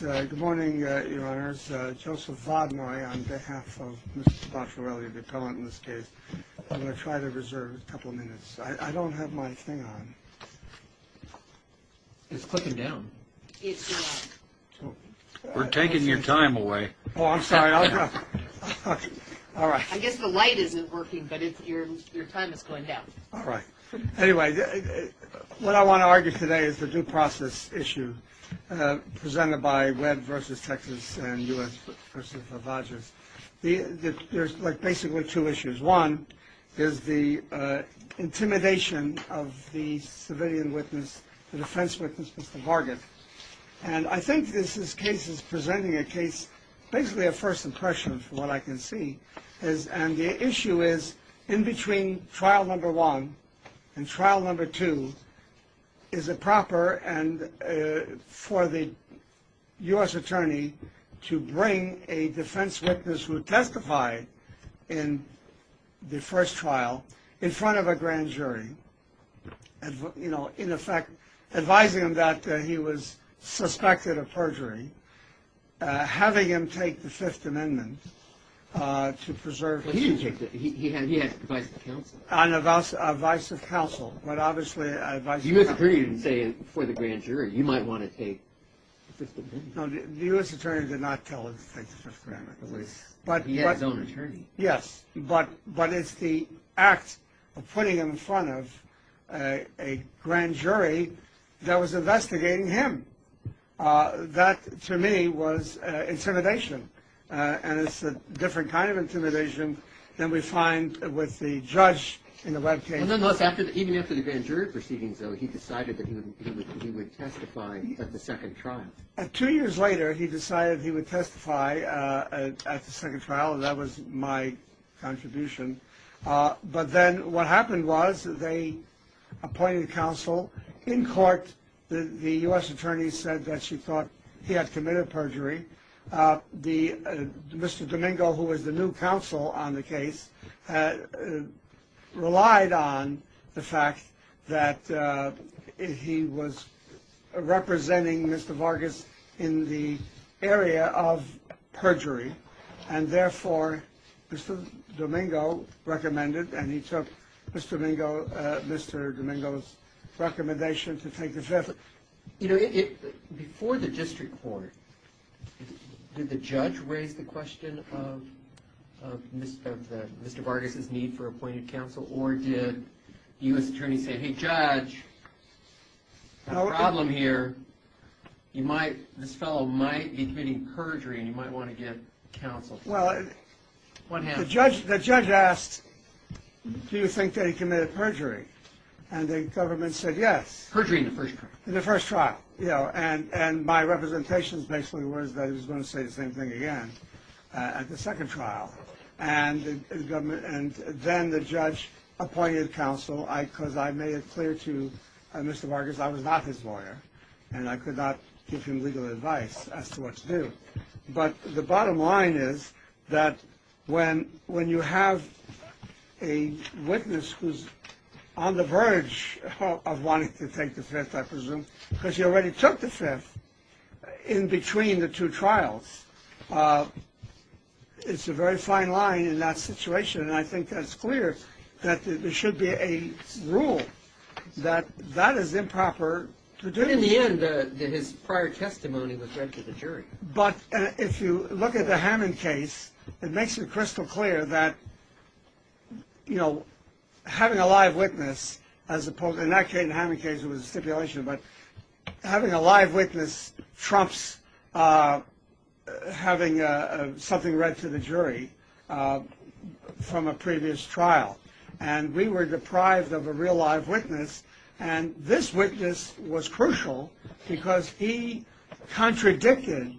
Good morning, your honors. Joseph Vaudemoy, on behalf of Mr. Bachelorelli, the appellant in this case. I'm going to try to reserve a couple of minutes. I don't have my thing on. It's clicking down. We're taking your time away. Oh, I'm sorry. All right. I guess the light isn't working, but your time is going down. All right. Anyway, what I want to argue today is the due process issue presented by Webb versus Texas and U.S. versus the Vodgers. There's basically two issues. One is the intimidation of the civilian witness, the defense witness, Mr. Hargit. And I think this case is presenting a case, basically a first impression of what I can see. And the issue is in between trial number one and trial number two, is it proper for the U.S. attorney to bring a defense witness who testified in the first trial in front of a grand jury? You know, in effect, advising him that he was suspected of perjury, having him take the Fifth Amendment to preserve. He didn't take it. He had to advise the counsel. Advise the counsel, but obviously advise the counsel. The U.S. attorney didn't say for the grand jury, you might want to take the Fifth Amendment. No, the U.S. attorney did not tell him to take the Fifth Amendment. He had his own attorney. Yes, but it's the act of putting him in front of a grand jury that was investigating him. That, to me, was intimidation. And it's a different kind of intimidation than we find with the judge in the Webb case. Even after the grand jury proceedings, though, he decided that he would testify at the second trial. Two years later, he decided he would testify at the second trial. That was my contribution. But then what happened was they appointed counsel. In court, the U.S. attorney said that she thought he had committed perjury. Mr. Domingo, who was the new counsel on the case, relied on the fact that he was representing Mr. Vargas in the area of perjury. And therefore, Mr. Domingo recommended, and he took Mr. Domingo's recommendation to take the Fifth. Before the district court, did the judge raise the question of Mr. Vargas' need for appointed counsel? Or did the U.S. attorney say, hey, judge, we have a problem here. This fellow might be committing perjury, and you might want to get counsel. Well, the judge asked, do you think that he committed perjury? And the government said yes. Perjury in the first trial. In the first trial, yeah. And my representation basically was that he was going to say the same thing again at the second trial. And then the judge appointed counsel because I made it clear to Mr. Vargas I was not his lawyer, and I could not give him legal advice as to what to do. But the bottom line is that when you have a witness who's on the verge of wanting to take the Fifth, I presume, because he already took the Fifth in between the two trials, it's a very fine line in that situation. And I think that's clear that there should be a rule that that is improper to do. But in the end, his prior testimony was read to the jury. But if you look at the Hammond case, it makes it crystal clear that, you know, having a live witness, in that case, the Hammond case, it was a stipulation, but having a live witness trumps having something read to the jury from a previous trial. And we were deprived of a real live witness. And this witness was crucial because he contradicted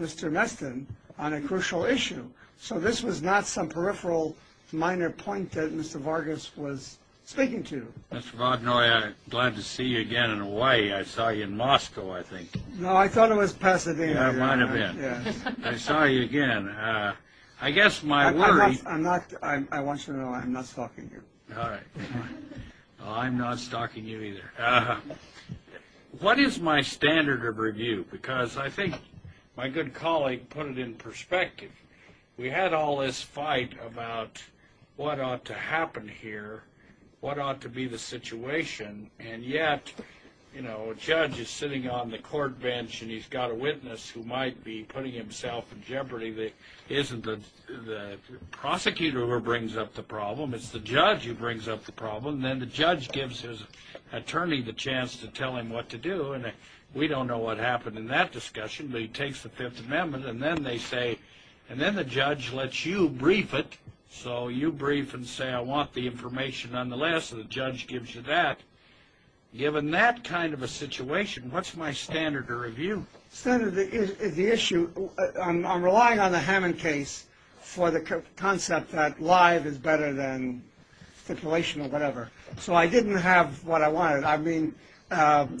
Mr. Meston on a crucial issue. So this was not some peripheral minor point that Mr. Vargas was speaking to. Mr. Vaudenoye, glad to see you again in Hawaii. I saw you in Moscow, I think. No, I thought it was Pasadena. It might have been. I saw you again. I guess my worry- I want you to know I'm not stalking you. All right. Well, I'm not stalking you either. What is my standard of review? Because I think my good colleague put it in perspective. We had all this fight about what ought to happen here, what ought to be the situation, and yet, you know, a judge is sitting on the court bench and he's got a witness who might be putting himself in jeopardy that isn't the prosecutor who brings up the problem. It's the judge who brings up the problem. And then the judge gives his attorney the chance to tell him what to do. And we don't know what happened in that discussion, but he takes the Fifth Amendment. And then they say-and then the judge lets you brief it. So you brief and say, I want the information nonetheless, and the judge gives you that. Given that kind of a situation, what's my standard of review? Standard of the issue, I'm relying on the Hammond case for the concept that live is better than stipulation or whatever. So I didn't have what I wanted. I mean,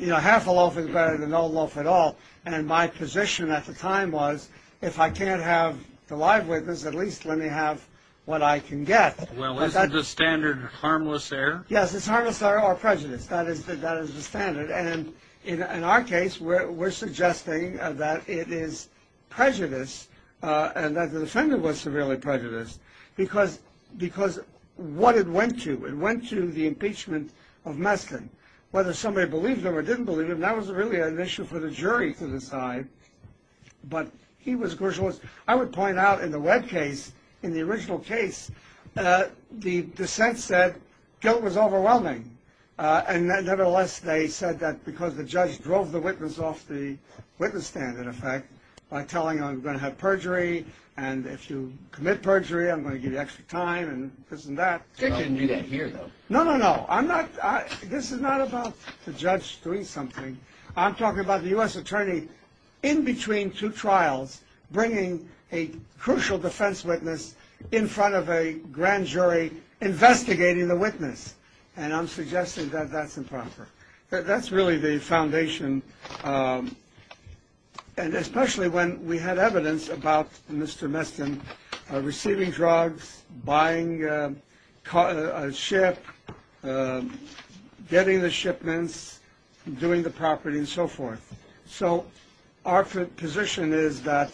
you know, half a loaf is better than no loaf at all. And my position at the time was if I can't have the live witness, at least let me have what I can get. Well, isn't the standard harmless error? Yes, it's harmless error or prejudice. That is the standard. And in our case, we're suggesting that it is prejudice and that the defendant was severely prejudiced because what it went to. It went to the impeachment of Meston. Whether somebody believed him or didn't believe him, that was really an issue for the jury to decide. But he was-I would point out in the Webb case, in the original case, the dissent said guilt was overwhelming. And nevertheless, they said that because the judge drove the witness off the witness stand, in effect, by telling him, I'm going to have perjury, and if you commit perjury, I'm going to give you extra time and this and that. They didn't do that here, though. No, no, no. I'm not-this is not about the judge doing something. I'm talking about the U.S. attorney in between two trials bringing a crucial defense witness in front of a grand jury investigating the witness. And I'm suggesting that that's improper. That's really the foundation. And especially when we had evidence about Mr. Meston receiving drugs, buying a ship, getting the shipments, doing the property, and so forth. So our position is that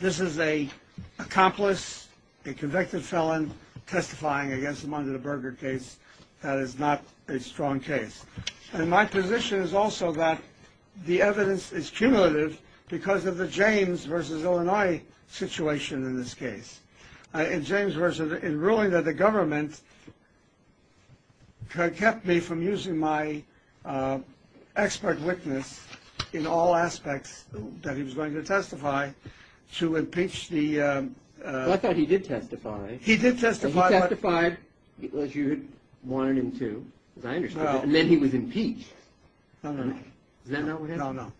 this is an accomplice, a convicted felon, testifying against him under the Berger case. That is not a strong case. And my position is also that the evidence is cumulative because of the James versus Illinois situation in this case. And James version, in ruling that the government kept me from using my expert witness in all aspects that he was going to testify to impeach the- Well, I thought he did testify. He did testify. He testified, as you had wanted him to, as I understood it. And then he was impeached. No, no. Is that not what happened? No, no.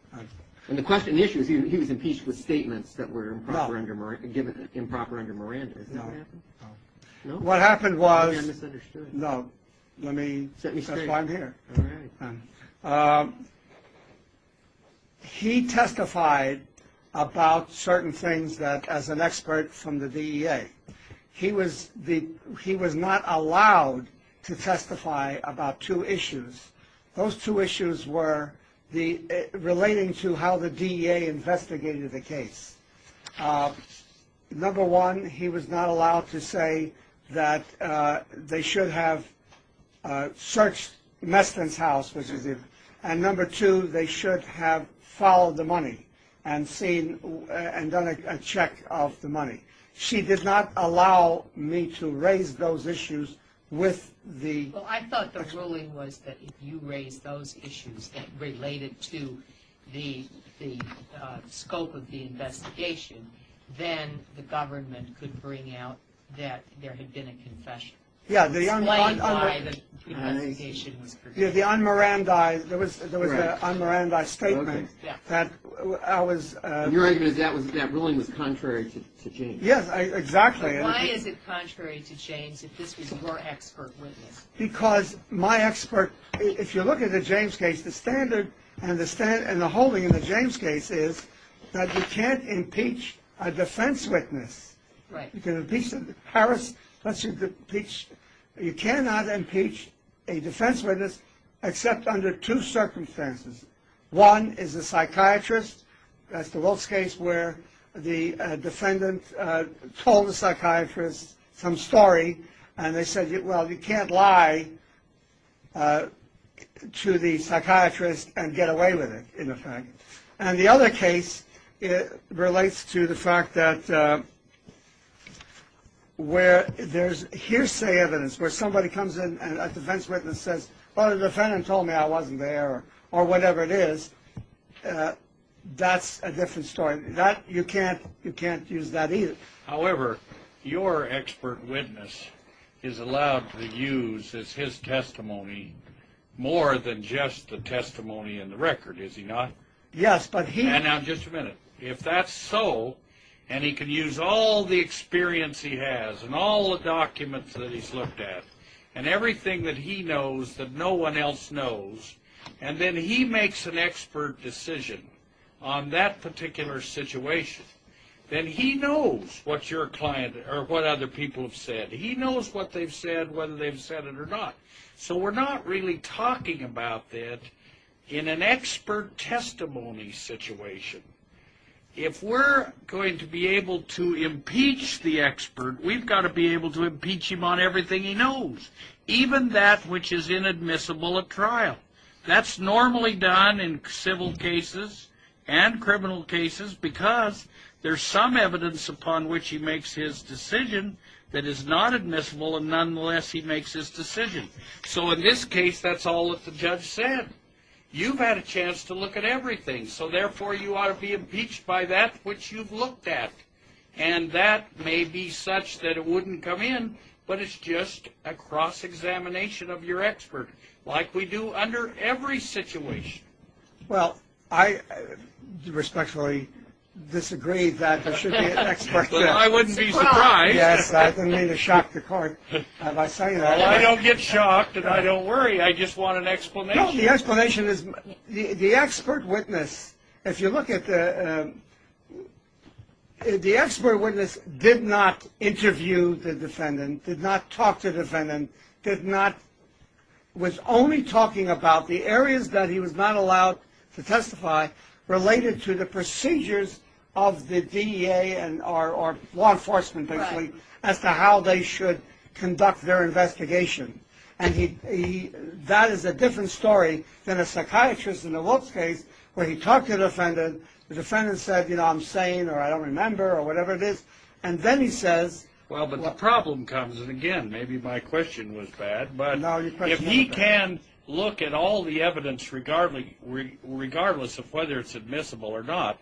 And the issue is he was impeached with statements that were improper under Miranda. Is that what happened? No. No? What happened was- You're misunderstood. No. Let me- Set me straight. That's why I'm here. All right. He testified about certain things that, as an expert from the DEA, he was not allowed to testify about two issues. Those two issues were relating to how the DEA investigated the case. Number one, he was not allowed to say that they should have searched Meston's house, and number two, they should have followed the money and seen- and done a check of the money. She did not allow me to raise those issues with the- If you raised those issues that related to the scope of the investigation, then the government could bring out that there had been a confession. Yeah, the un- Explained why the investigation was- The un-Miranda- Correct. There was an un-Miranda statement that I was- Your argument is that ruling was contrary to James. Yes, exactly. Why is it contrary to James if this was your expert witness? Because my expert- If you look at the James case, the standard and the holding in the James case is that you can't impeach a defense witness. Right. You can impeach- Harris lets you impeach- You cannot impeach a defense witness except under two circumstances. One is a psychiatrist. That's the Wilkes case where the defendant told the psychiatrist some story, and they said, well, you can't lie to the psychiatrist and get away with it, in effect. And the other case relates to the fact that where there's hearsay evidence, where somebody comes in and a defense witness says, oh, the defendant told me I wasn't there, or whatever it is. That's a different story. You can't use that either. However, your expert witness is allowed to use his testimony more than just the testimony in the record, is he not? Yes, but he- Now, just a minute. If that's so, and he can use all the experience he has and all the documents that he's looked at and everything that he knows that no one else knows, and then he makes an expert decision on that particular situation, then he knows what your client or what other people have said. He knows what they've said, whether they've said it or not. So we're not really talking about that in an expert testimony situation. If we're going to be able to impeach the expert, we've got to be able to impeach him on everything he knows, even that which is inadmissible at trial. That's normally done in civil cases and criminal cases because there's some evidence upon which he makes his decision that is not admissible, and nonetheless he makes his decision. So in this case, that's all that the judge said. You've had a chance to look at everything. So, therefore, you ought to be impeached by that which you've looked at. And that may be such that it wouldn't come in, but it's just a cross-examination of your expert, like we do under every situation. Well, I respectfully disagree that there should be an expert there. Well, I wouldn't be surprised. Yes, I don't mean to shock the court by saying that. Well, I don't get shocked, and I don't worry. I just want an explanation. Well, the explanation is the expert witness, if you look at the expert witness, did not interview the defendant, did not talk to the defendant, was only talking about the areas that he was not allowed to testify related to the procedures of the DEA or law enforcement basically as to how they should conduct their investigation. And that is a different story than a psychiatrist in the Wilkes case where he talked to the defendant, the defendant said, you know, I'm sane or I don't remember or whatever it is, and then he says... Well, but the problem comes, and again, maybe my question was bad, but if he can look at all the evidence regardless of whether it's admissible or not,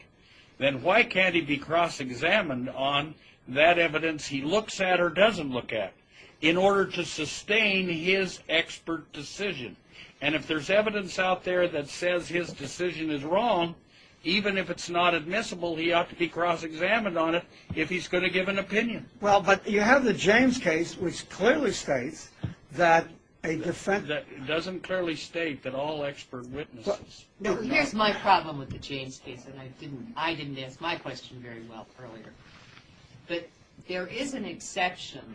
then why can't he be cross-examined on that evidence he looks at or doesn't look at in order to sustain his expert decision? And if there's evidence out there that says his decision is wrong, even if it's not admissible, he ought to be cross-examined on it if he's going to give an opinion. Well, but you have the James case, which clearly states that a defendant... It doesn't clearly state that all expert witnesses... Here's my problem with the James case, and I didn't ask my question very well earlier. But there is an exception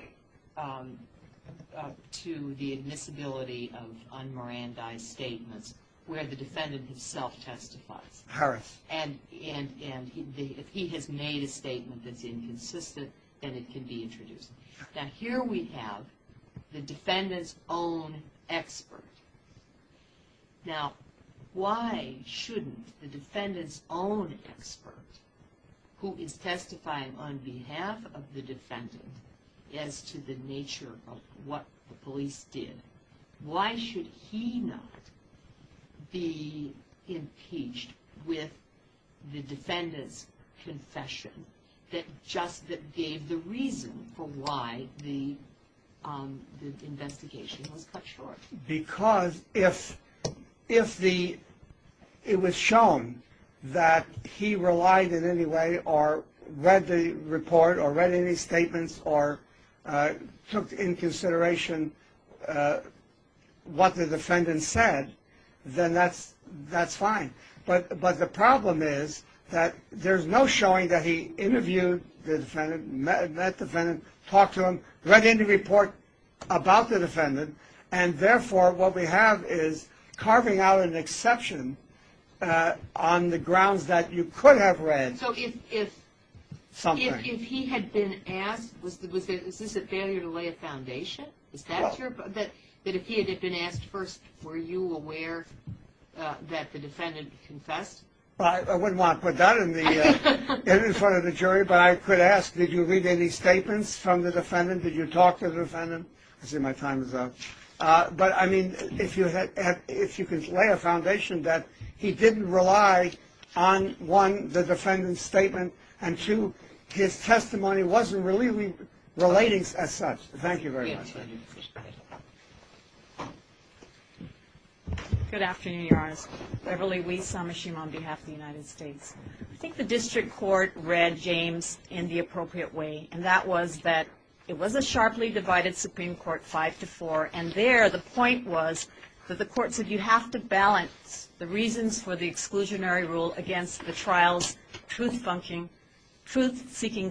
to the admissibility of unmerandized statements where the defendant himself testifies. And if he has made a statement that's inconsistent, then it can be introduced. Now, here we have the defendant's own expert. Now, why shouldn't the defendant's own expert, who is testifying on behalf of the defendant as to the nature of what the police did, why should he not be impeached with the defendant's confession that gave the reason for why the investigation was cut short? Because if it was shown that he relied in any way or read the report or read any statements or took into consideration what the defendant said, then that's fine. But the problem is that there's no showing that he interviewed the defendant, met the defendant, talked to him, read any report about the defendant, and therefore what we have is carving out an exception on the grounds that you could have read something. So if he had been asked, is this a failure to lay a foundation? Is that your... that if he had been asked first, were you aware that the defendant confessed? Well, I wouldn't want to put that in front of the jury, but I could ask, did you read any statements from the defendant? Did you talk to the defendant? I see my time is up. But, I mean, if you could lay a foundation that he didn't rely on, one, the defendant's statement, and two, his testimony wasn't really relating as such. Thank you very much. Good afternoon, Your Honor. Beverly Weiss, Amishim, on behalf of the United States. I think the district court read James in the appropriate way, and that was that it was a sharply divided Supreme Court 5-4, and there the point was that the court said you have to balance the reasons for the exclusionary rule against the trial's truth-seeking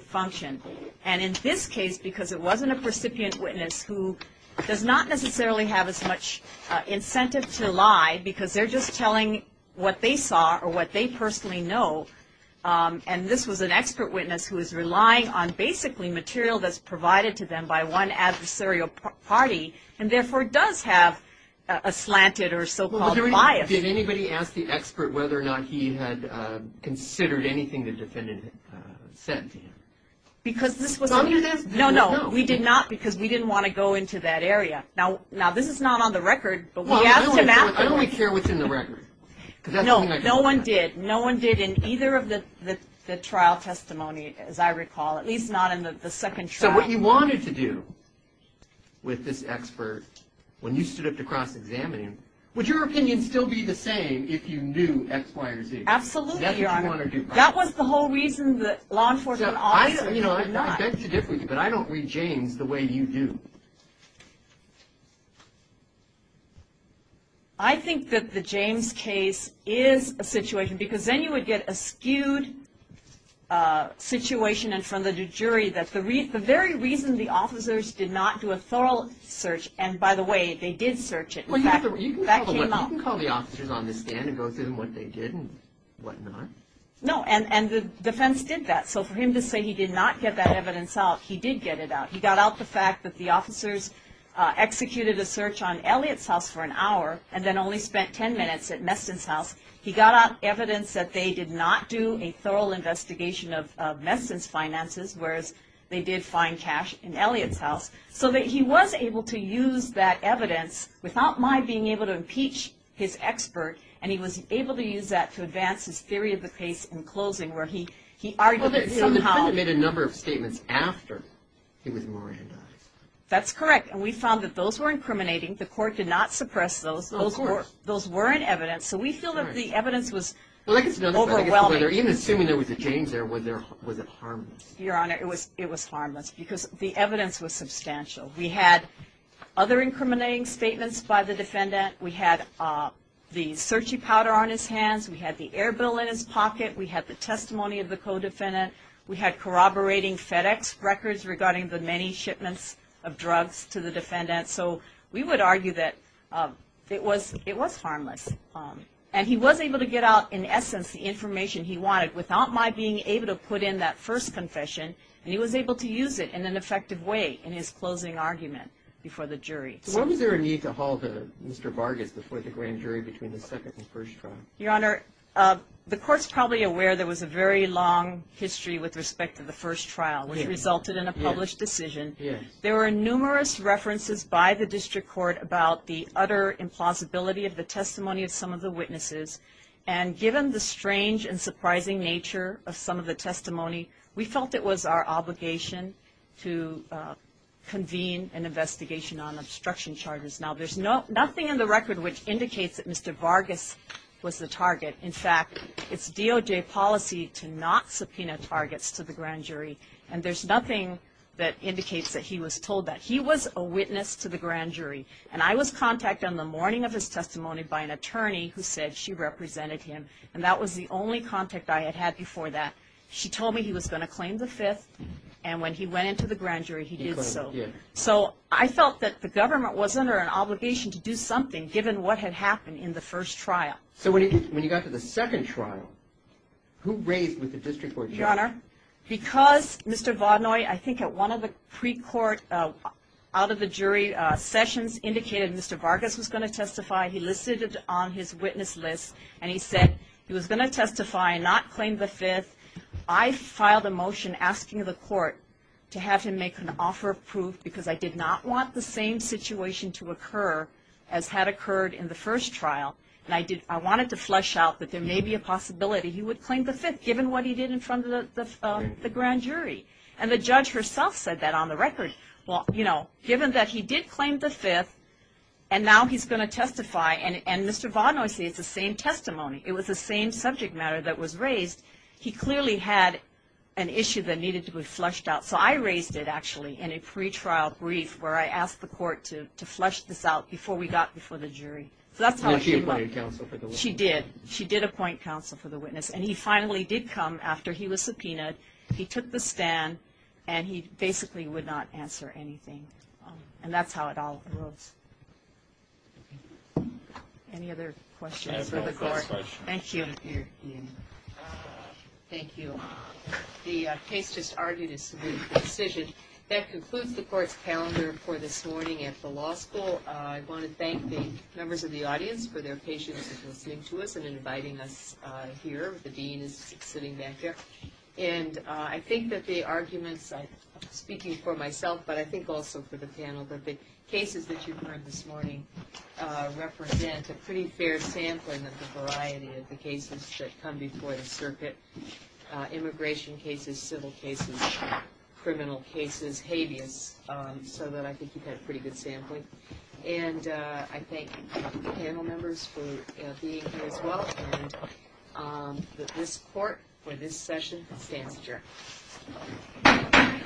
function. And in this case, because it wasn't a recipient witness who does not necessarily have as much incentive to lie, because they're just telling what they saw or what they personally know, and this was an expert witness who is relying on, basically, material that's provided to them by one adversarial party, and therefore does have a slanted or so-called bias. Did anybody ask the expert whether or not he had considered anything the defendant said to him? No, no, we did not because we didn't want to go into that area. Now, this is not on the record, but we have to map it. I don't really care what's in the record. No, no one did. No one did in either of the trial testimony, as I recall, at least not in the second trial. So what you wanted to do with this expert, when you stood up to cross-examine him, would your opinion still be the same if you knew X, Y, or Z? Absolutely. That's what you want to do. That was the whole reason the law enforcement officer did not. I beg to differ with you, but I don't read James the way you do. I think that the James case is a situation, because then you would get a skewed situation in front of the jury that the very reason the officers did not do a thorough search, and by the way, they did search it. You can call the officers on the stand and go through what they did and whatnot. No, and the defense did that. So for him to say he did not get that evidence out, he did get it out. He got out the fact that the officers executed a search on Elliott's house for an hour and then only spent ten minutes at Meston's house. He got out evidence that they did not do a thorough investigation of Meston's finances, whereas they did find cash in Elliott's house. So he was able to use that evidence without my being able to impeach his expert, and he was able to use that to advance his theory of the case in closing where he argued that somehow. The defendant made a number of statements after he was morandized. That's correct, and we found that those were incriminating. The court did not suppress those. Those weren't evidence, so we feel that the evidence was overwhelming. Even assuming there was a James there, was it harmless? Your Honor, it was harmless because the evidence was substantial. We had other incriminating statements by the defendant. We had the searchie powder on his hands. We had the air bill in his pocket. We had the testimony of the co-defendant. We had corroborating FedEx records regarding the many shipments of drugs to the defendant. So we would argue that it was harmless, and he was able to get out in essence the information he wanted without my being able to put in that first confession, and he was able to use it in an effective way in his closing argument before the jury. So what was there a need to hold Mr. Vargas before the grand jury between the second and first trial? Your Honor, the court's probably aware there was a very long history with respect to the first trial, which resulted in a published decision. There were numerous references by the district court about the utter implausibility of the testimony of some of the witnesses, and given the strange and surprising nature of some of the testimony, we felt it was our obligation to convene an investigation on obstruction charges. Now, there's nothing in the record which indicates that Mr. Vargas was the target. In fact, it's DOJ policy to not subpoena targets to the grand jury, and there's nothing that indicates that he was told that. He was a witness to the grand jury, and I was contacted on the morning of his testimony by an attorney who said she represented him, and that was the only contact I had had before that. She told me he was going to claim the fifth, and when he went into the grand jury, he did so. So I felt that the government was under an obligation to do something, given what had happened in the first trial. So when you got to the second trial, who raised with the district court judge? Your Honor, because Mr. Vaudenoye, I think at one of the pre-court out-of-the-jury sessions, indicated Mr. Vargas was going to testify. He listed it on his witness list, and he said he was going to testify and not claim the fifth. I filed a motion asking the court to have him make an offer of proof because I did not want the same situation to occur as had occurred in the first trial, and I wanted to flesh out that there may be a possibility he would claim the fifth, given what he did in front of the grand jury. And the judge herself said that on the record. Well, you know, given that he did claim the fifth, and now he's going to testify, and Mr. Vaudenoye said it's the same testimony. It was the same subject matter that was raised. He clearly had an issue that needed to be fleshed out, so I raised it actually in a pre-trial brief where I asked the court to flesh this out before we got before the jury. So that's how it came up. Did she appoint counsel for the witness? She did. She did appoint counsel for the witness, and he finally did come after he was subpoenaed. He took the stand, and he basically would not answer anything, and that's how it all arose. Any other questions for the court? Thank you. Thank you. The case just argued a subpoenaed decision. That concludes the court's calendar for this morning at the law school. I want to thank the members of the audience for their patience in listening to us and inviting us here. The dean is sitting back there. And I think that the arguments, speaking for myself, but I think also for the panel, that the cases that you've heard this morning represent a pretty fair sampling of the variety of the cases that come before the circuit, immigration cases, civil cases, criminal cases, habeas, so that I think you've had pretty good sampling. And I thank the panel members for being here as well, and that this court for this session stands adjourned.